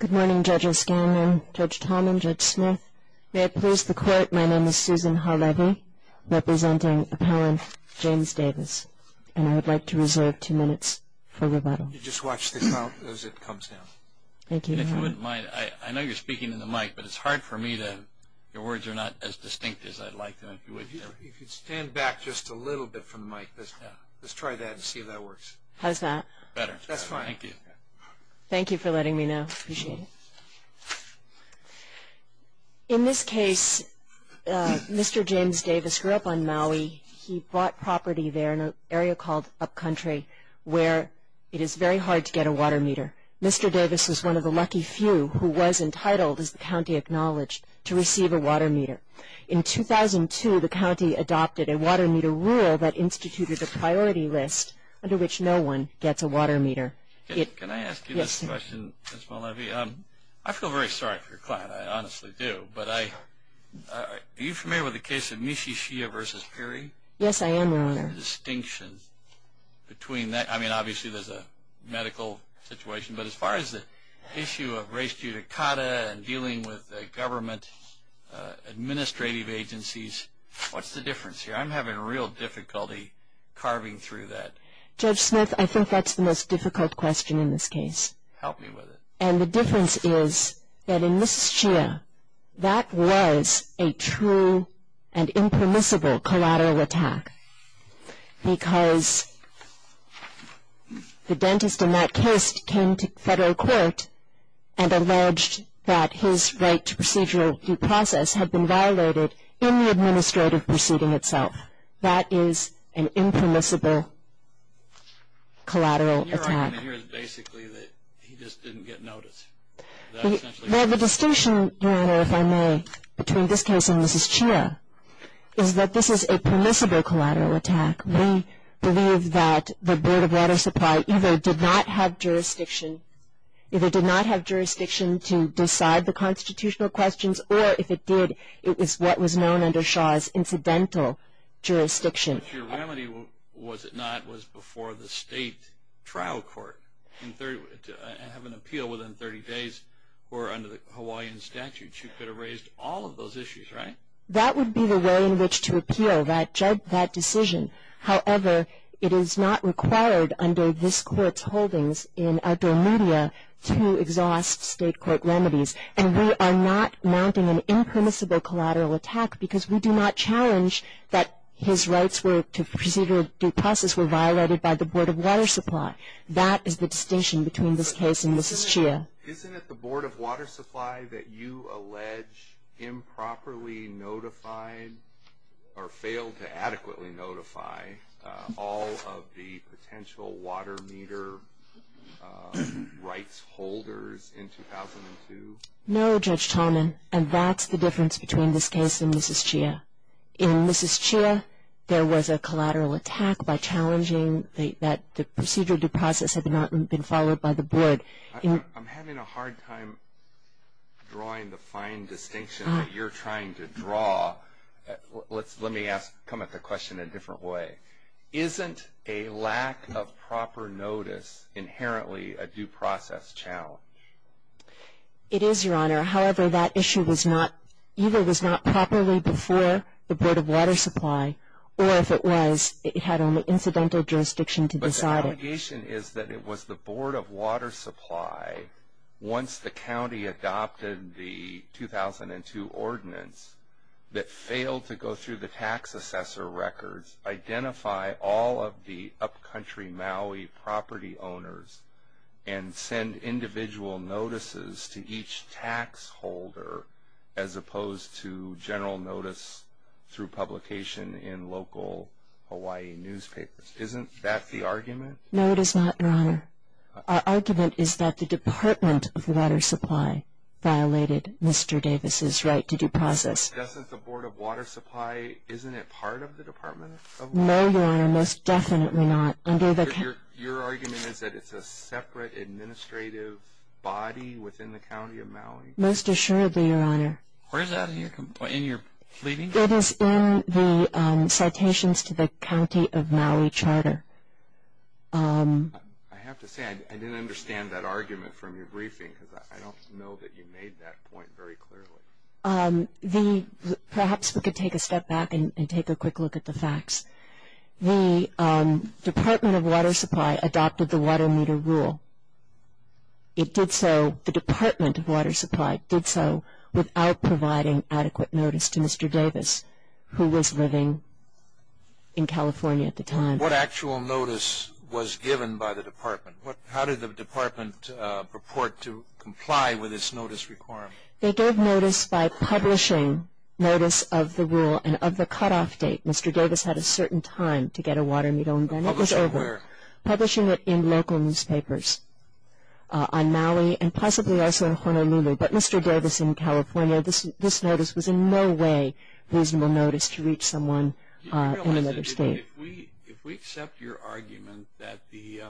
Good morning Judge O'Scanlan, Judge Talman, Judge Smith. May it please the Court, my name is Susan Harlevy, representing Appellant James Davis, and I would like to reserve two minutes for rebuttal. You just watch the count as it comes down. Thank you. And if you wouldn't mind, I know you're speaking in the mic, but it's hard for me to, your words are not as distinct as I'd like them to be. If you'd stand back just a little bit from the mic, let's try that and see if that works. How's that? Better. That's fine. Thank you. Thank you for letting me know. Appreciate it. In this case, Mr. James Davis grew up on Maui. He bought property there in an area called Upcountry where it is very hard to get a water meter. Mr. Davis was one of the lucky few who was entitled, as the county acknowledged, to receive a water meter. In 2002, the county adopted a water meter rule that instituted a priority list under which no one gets a water meter. Can I ask you this question, Ms. Harlevy? Yes, sir. I feel very sorry for your client. I honestly do. But are you familiar with the case of Mishishia v. Perry? Yes, I am, Your Honor. I mean, obviously, there's a medical situation. But as far as the issue of race judicata and dealing with government administrative agencies, what's the difference here? I'm having real difficulty carving through that. Judge Smith, I think that's the most difficult question in this case. Help me with it. And the difference is that in Mishishia, that was a true and impermissible collateral attack because the dentist in that case came to federal court and alleged that his right to procedural due process had been violated in the administrative proceeding itself. That is an impermissible collateral attack. What you're arguing here is basically that he just didn't get notice. Well, the distinction, Your Honor, if I may, between this case and Mishishia, is that this is a permissible collateral attack. We believe that the Board of Water Supply either did not have jurisdiction to decide the constitutional questions, or if it did, it was what was known under Shaw as incidental jurisdiction. But your remedy, was it not, was before the state trial court to have an appeal within 30 days where under the Hawaiian statute you could have raised all of those issues, right? That would be the way in which to appeal that decision. However, it is not required under this court's holdings in outdoor media to exhaust state court remedies. And we are not mounting an impermissible collateral attack because we do not challenge that his rights to procedural due process were violated by the Board of Water Supply. That is the distinction between this case and Mishishia. Isn't it the Board of Water Supply that you allege improperly notified or failed to adequately notify all of the potential water meter rights holders in 2002? No, Judge Tallman, and that's the difference between this case and Mishishia. In Mishishia, there was a collateral attack by challenging that the procedural due process had not been followed by the Board. I'm having a hard time drawing the fine distinction that you're trying to draw. Let me come at the question a different way. Isn't a lack of proper notice inherently a due process challenge? It is, Your Honor. However, that issue either was not properly before the Board of Water Supply, or if it was, it had only incidental jurisdiction to decide it. But the allegation is that it was the Board of Water Supply, once the county adopted the 2002 ordinance, that failed to go through the tax assessor records, identify all of the upcountry Maui property owners, and send individual notices to each tax holder, as opposed to general notice through publication in local Hawaii newspapers. Isn't that the argument? No, it is not, Your Honor. Our argument is that the Department of Water Supply violated Mr. Davis's right to due process. Isn't the Board of Water Supply, isn't it part of the Department of Water Supply? No, Your Honor, most definitely not. Your argument is that it's a separate administrative body within the county of Maui? Most assuredly, Your Honor. Where is that in your pleading? It is in the citations to the county of Maui charter. I have to say, I didn't understand that argument from your briefing, because I don't know that you made that point very clearly. Perhaps we could take a step back and take a quick look at the facts. The Department of Water Supply adopted the water meter rule. It did so, the Department of Water Supply did so, without providing adequate notice to Mr. Davis, who was living in California at the time. What actual notice was given by the department? How did the department purport to comply with this notice requirement? They gave notice by publishing notice of the rule and of the cutoff date. Mr. Davis had a certain time to get a water meter, and then it was over. Publishing where? Publishing it in local newspapers on Maui and possibly also in Honolulu. But Mr. Davis in California, this notice was in no way reasonable notice to reach someone in another state. Do you realize that if we accept your argument that the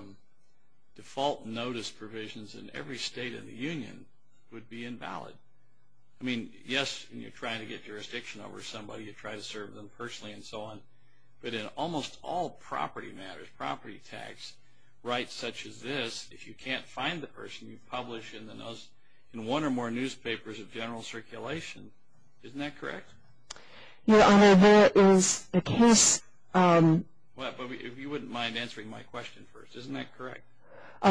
default notice provisions in every state in the union would be invalid, I mean, yes, when you're trying to get jurisdiction over somebody, you try to serve them personally and so on, but in almost all property matters, property tax, rights such as this, if you can't find the person, you publish in one or more newspapers of general circulation. Isn't that correct? Your Honor, there is a case. If you wouldn't mind answering my question first. Isn't that correct?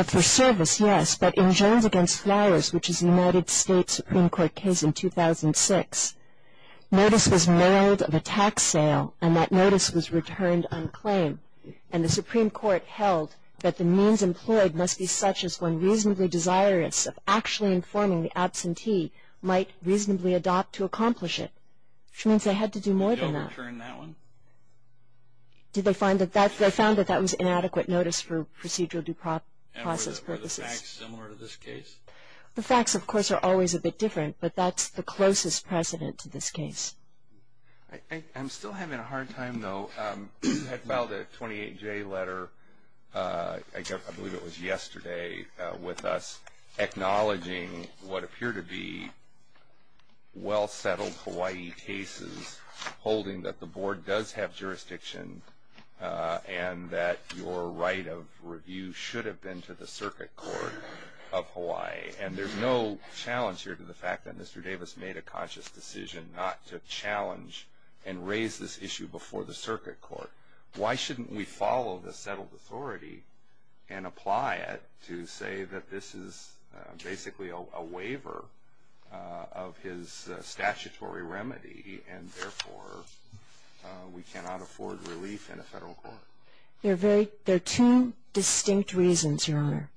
For service, yes, but in Jones against Flowers, which is a United States Supreme Court case in 2006, notice was mailed of a tax sale, and that notice was returned unclaimed, and the Supreme Court held that the means employed must be such as one reasonably desirous of actually informing the absentee might reasonably adopt to accomplish it, which means they had to do more than that. They overturned that one. They found that that was inadequate notice for procedural due process purposes. And were the facts similar to this case? The facts, of course, are always a bit different, but that's the closest precedent to this case. I'm still having a hard time, though. I filed a 28-J letter, I believe it was yesterday, with us acknowledging what appear to be well-settled Hawaii cases, holding that the board does have jurisdiction and that your right of review should have been to the Circuit Court of Hawaii. And there's no challenge here to the fact that Mr. Davis made a conscious decision not to challenge and raise this issue before the Circuit Court. Why shouldn't we follow the settled authority and apply it to say that this is basically a waiver of his statutory remedy and therefore we cannot afford relief in a federal court? There are two distinct reasons, Your Honor.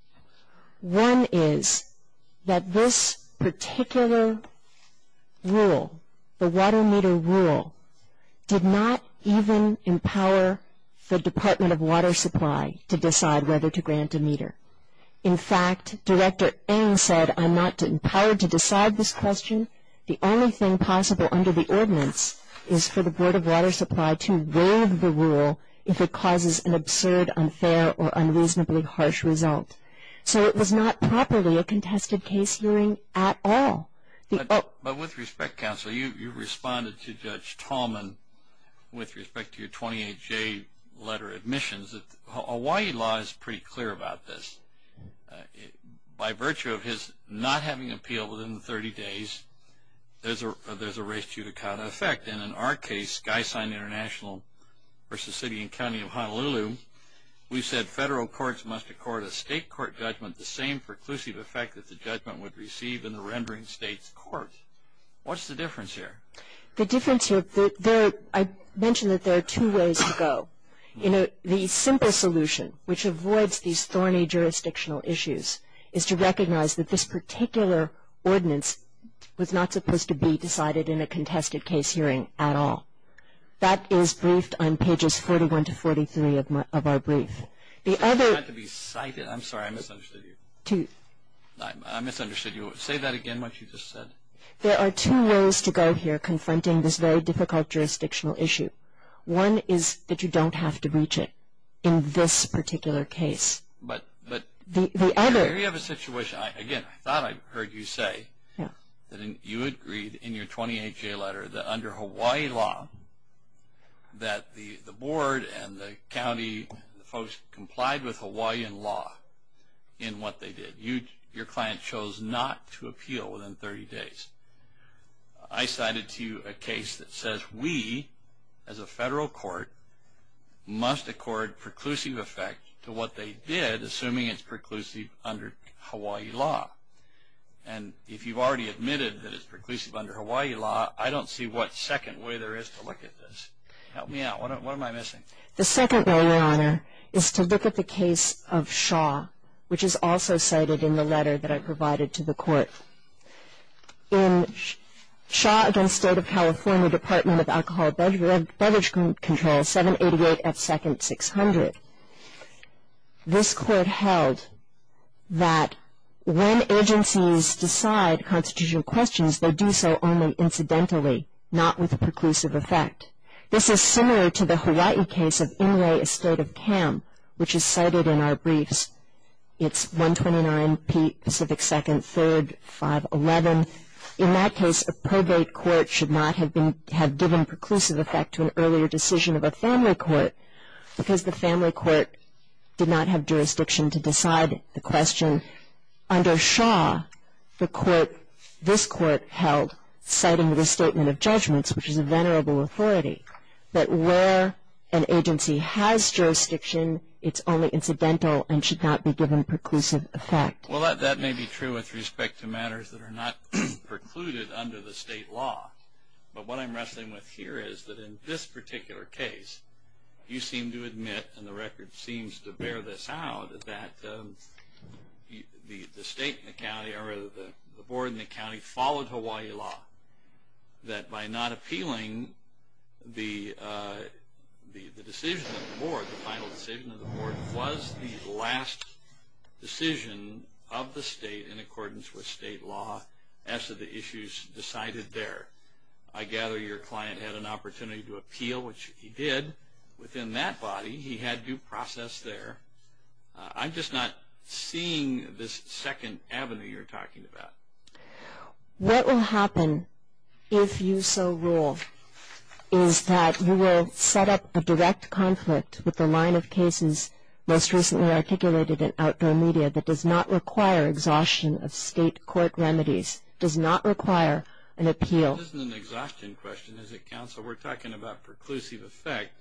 One is that this particular rule, the water meter rule, did not even empower the Department of Water Supply to decide whether to grant a meter. In fact, Director Eng said, I'm not empowered to decide this question. The only thing possible under the ordinance is for the Board of Water Supply to waive the rule if it causes an absurd, unfair, or unreasonably harsh result. So it was not properly a contested case hearing at all. But with respect, counsel, you responded to Judge Tallman with respect to your 28-J letter admissions that Hawaii law is pretty clear about this. By virtue of his not having appealed within the 30 days, there's a race judicata effect. And in our case, Guy-Sign International v. City and County of Honolulu, we said federal courts must accord a state court judgment the same preclusive effect that the judgment would receive in the rendering state's court. What's the difference here? The difference here, I mentioned that there are two ways to go. The simple solution, which avoids these thorny jurisdictional issues, is to recognize that this particular ordinance was not supposed to be decided in a contested case hearing at all. That is briefed on pages 41 to 43 of our brief. The other- I'm sorry, I misunderstood you. I misunderstood you. Say that again, what you just said. There are two ways to go here confronting this very difficult jurisdictional issue. One is that you don't have to reach it in this particular case. But- The other- Here you have a situation. Again, I thought I heard you say that you agreed in your 28-J letter that under Hawaii law that the board and the county folks complied with Hawaiian law in what they did. Your client chose not to appeal within 30 days. I cited to you a case that says we, as a federal court, must accord preclusive effect to what they did, assuming it's preclusive under Hawaii law. And if you've already admitted that it's preclusive under Hawaii law, I don't see what second way there is to look at this. Help me out, what am I missing? The second way, Your Honor, is to look at the case of Shaw, which is also cited in the letter that I provided to the court. In Shaw v. State of California, Department of Alcohol and Beverage Control, 788F2-600, this court held that when agencies decide constitutional questions, they do so only incidentally, not with a preclusive effect. This is similar to the Hawaii case of Inouye v. State of Cam, which is cited in our briefs. It's 129P Pacific 2nd, 3rd, 511. In that case, a probate court should not have been, had given preclusive effect to an earlier decision of a family court because the family court did not have jurisdiction to decide the question. Under Shaw, the court, this court held, citing the statement of judgments, which is a venerable authority, that where an agency has jurisdiction, it's only incidental and should not be given preclusive effect. Well, that may be true with respect to matters that are not precluded under the state law. But what I'm wrestling with here is that in this particular case, you seem to admit, and the record seems to bear this out, that the state and the county, or the board and the county followed Hawaii law, that by not appealing the decision of the board, the final decision of the board was the last decision of the state in accordance with state law as to the issues decided there. I gather your client had an opportunity to appeal, which he did. Within that body, he had due process there. I'm just not seeing this second avenue you're talking about. What will happen if you so rule is that you will set up a direct conflict with the line of cases most recently articulated in outdoor media that does not require exhaustion of state court remedies, does not require an appeal. This isn't an exhaustion question, is it, counsel? We're talking about preclusive effect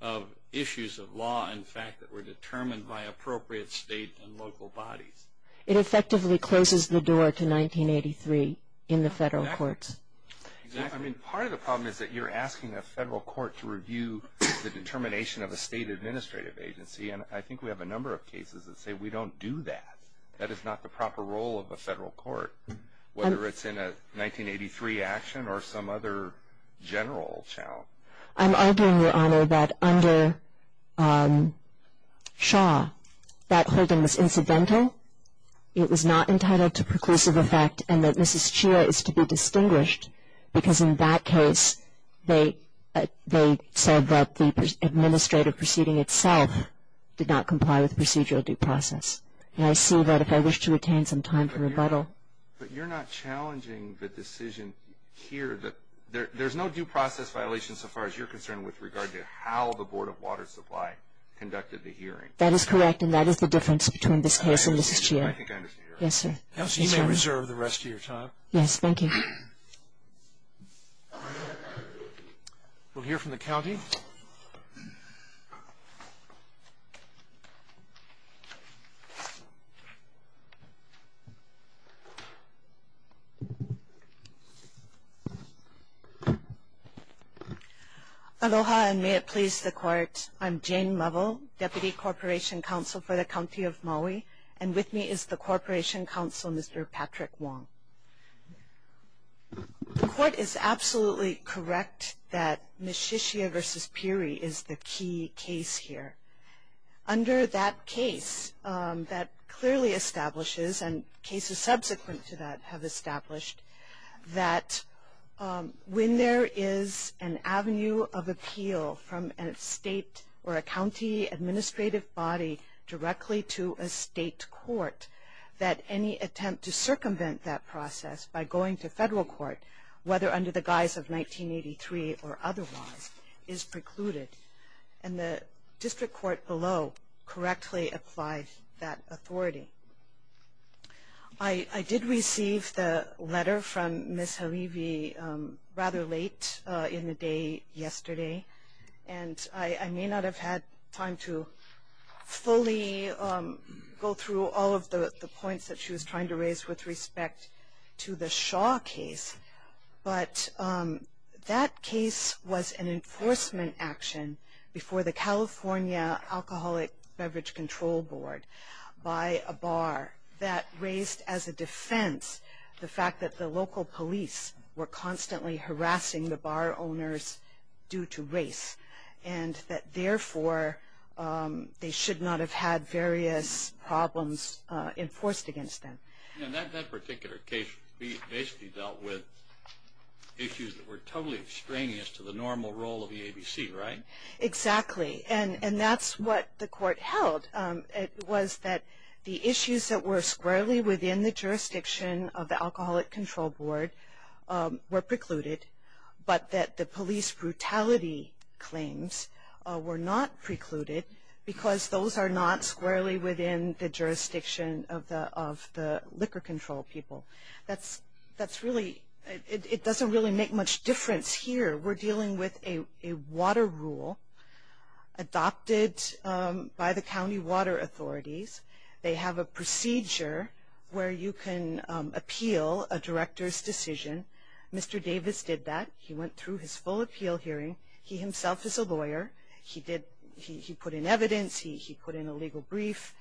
of issues of law, in fact, that were determined by appropriate state and local bodies. It effectively closes the door to 1983 in the federal courts. Part of the problem is that you're asking a federal court to review the determination of a state administrative agency, and I think we have a number of cases that say we don't do that. That is not the proper role of a federal court, whether it's in a 1983 action or some other general challenge. I'm arguing, Your Honor, that under Shaw, that holding was incidental. It was not entitled to preclusive effect, and that Mrs. Chia is to be distinguished because in that case they said that the administrative proceeding itself did not comply with procedural due process, and I see that if I wish to retain some time for rebuttal. But you're not challenging the decision here. There's no due process violation, so far as you're concerned, with regard to how the Board of Water Supply conducted the hearing. That is correct, and that is the difference between this case and Mrs. Chia. I think I understand. Yes, sir. You may reserve the rest of your time. Yes, thank you. We'll hear from the county. Aloha, and may it please the Court. I'm Jane Lovell, Deputy Corporation Counsel for the County of Maui, and with me is the Corporation Counsel, Mr. Patrick Wong. The Court is absolutely correct that Mrs. Chia v. Peary is the key case here. Under that case, that clearly establishes, and cases subsequent to that have established, that when there is an avenue of appeal from a state or a county administrative body directly to a state court, that any attempt to circumvent that process by going to federal court, whether under the guise of 1983 or otherwise, is precluded. And the district court below correctly applies that authority. I did receive the letter from Ms. Harivi rather late in the day yesterday, and I may not have had time to fully go through all of the points that she was trying to raise with respect to the Shaw case. But that case was an enforcement action before the California Alcoholic Beverage Control Board by a bar that raised as a defense the fact that the local police were constantly harassing the bar owners due to race, and that therefore, they should not have had various problems enforced against them. And that particular case basically dealt with issues that were totally extraneous to the normal role of the ABC, right? Exactly. And that's what the court held was that the issues that were squarely within the jurisdiction of the Alcoholic Control Board were precluded, but that the police brutality claims were not precluded because those are not squarely within the jurisdiction of the liquor control people. That's really, it doesn't really make much difference here. We're dealing with a water rule adopted by the county water authorities. They have a procedure where you can appeal a director's decision. Mr. Davis did that. He went through his full appeal hearing. He himself is a lawyer. He put in evidence. He put in a legal brief.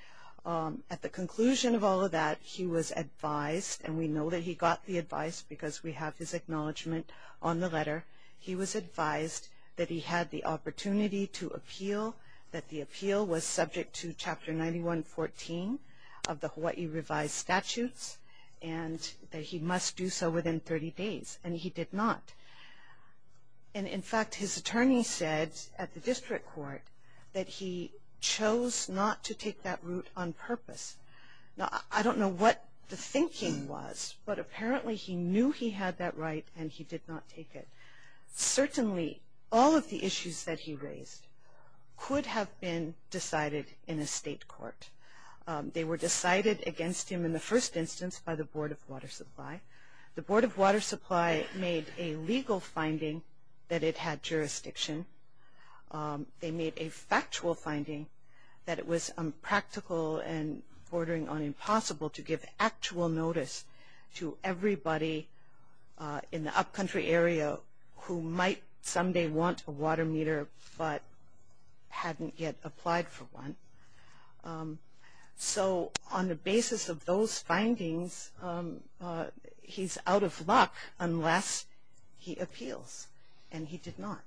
At the conclusion of all of that, he was advised, and we know that he got the advice because we have his acknowledgement on the letter. He was advised that he had the opportunity to appeal, that the appeal was subject to Chapter 91-14 of the Hawaii revised statutes, and that he must do so within 30 days. And he did not. And, in fact, his attorney said at the district court that he chose not to take that route on purpose. Now, I don't know what the thinking was, but apparently he knew he had that right and he did not take it. Certainly, all of the issues that he raised could have been decided in a state court. They were decided against him in the first instance by the Board of Water Supply. The Board of Water Supply made a legal finding that it had jurisdiction. They made a factual finding that it was impractical and bordering on impossible to give actual notice to everybody in the upcountry area who might someday want a water meter but hadn't yet applied for one. So on the basis of those findings, he's out of luck unless he appeals, and he did not.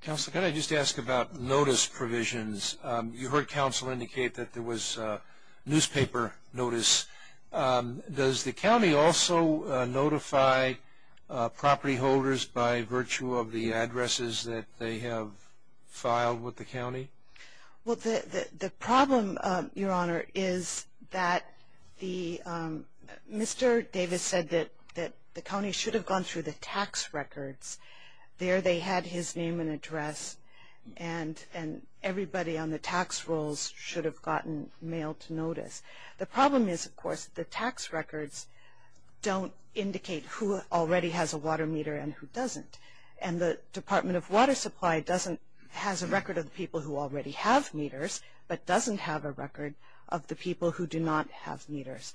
Counsel, can I just ask about notice provisions? You heard counsel indicate that there was newspaper notice. Does the county also notify property holders by virtue of the addresses that they have filed with the county? Well, the problem, Your Honor, is that Mr. Davis said that the county should have gone through the tax records. There they had his name and address, and everybody on the tax rolls should have gotten mail to notice. The problem is, of course, the tax records don't indicate who already has a water meter and who doesn't. And the Department of Water Supply doesn't, has a record of the people who already have meters, but doesn't have a record of the people who do not have meters.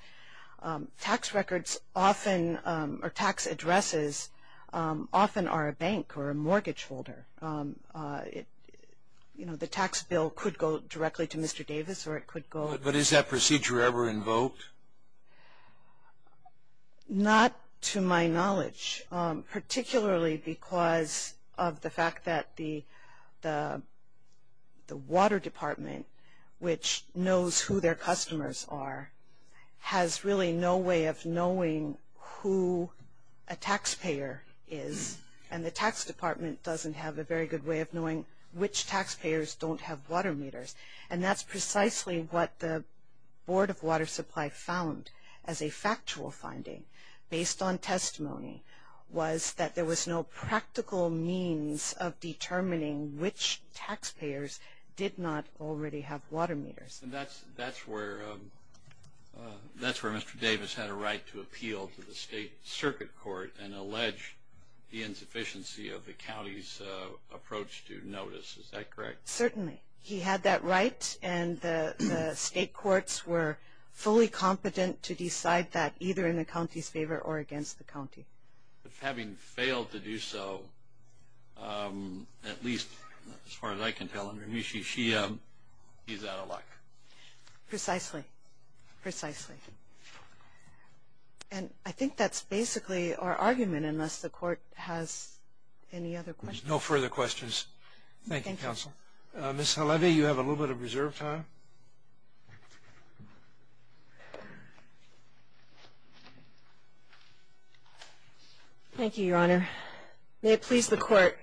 Tax records often, or tax addresses, often are a bank or a mortgage holder. You know, the tax bill could go directly to Mr. Davis, or it could go- But is that procedure ever invoked? Not to my knowledge, particularly because of the fact that the water department, which knows who their customers are, has really no way of knowing who a taxpayer is, and the tax department doesn't have a very good way of knowing which taxpayers don't have water meters. And that's precisely what the Board of Water Supply found as a factual finding, based on testimony, was that there was no practical means of determining which taxpayers did not already have water meters. And that's where Mr. Davis had a right to appeal to the state circuit court and allege the insufficiency of the county's approach to notice, is that correct? Certainly. He had that right, and the state courts were fully competent to decide that, either in the county's favor or against the county. But having failed to do so, at least as far as I can tell, he's out of luck. Precisely. Precisely. And I think that's basically our argument, unless the court has any other questions. No further questions. Thank you, Counsel. Ms. Halevy, you have a little bit of reserve time. Thank you, Your Honor. May it please the Court,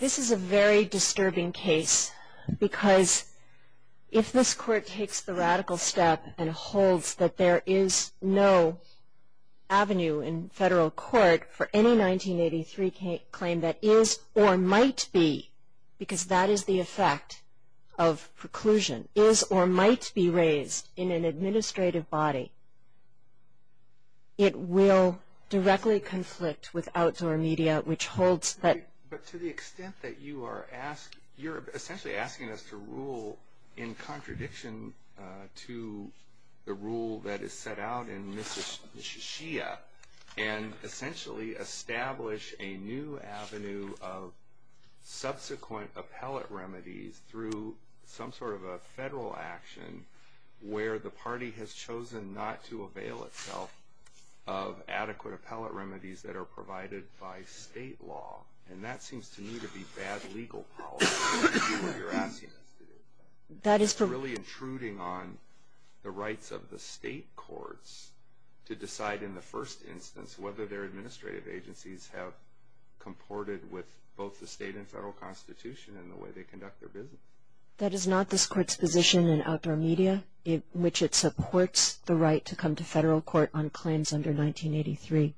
this is a very disturbing case, because if this Court takes the radical step and holds that there is no avenue in federal court for any 1983 claim that is or might be, because that is the effect of preclusion, is or might be raised in an administrative body, it will directly conflict with outdoor media, which holds that. But to the extent that you are asking, you're essentially asking us to rule in contradiction to the rule that is set out in Mississhia and essentially establish a new avenue of subsequent appellate remedies through some sort of a federal action where the party has chosen not to avail itself of adequate appellate remedies that are provided by state law, and that seems to me to be bad legal policy. That is really intruding on the rights of the state courts to decide in the first instance whether their administrative agencies have comported with both the state and federal constitution in the way they conduct their business. That is not this Court's position in outdoor media, in which it supports the right to come to federal court on claims under 1983.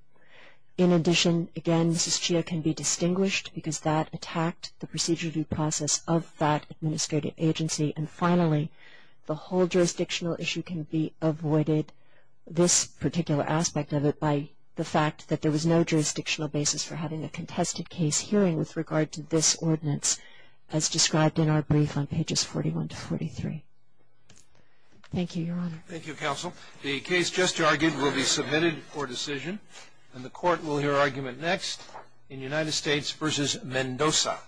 In addition, again, Mississhia can be distinguished because that attacked the procedure due process of that administrative agency. And finally, the whole jurisdictional issue can be avoided, this particular aspect of it, by the fact that there was no jurisdictional basis for having a contested case hearing with regard to this ordinance as described in our brief on pages 41 to 43. Thank you, Your Honor. Thank you, Counsel. The case just argued will be submitted for decision, and the Court will hear argument next in United States v. Mendoza.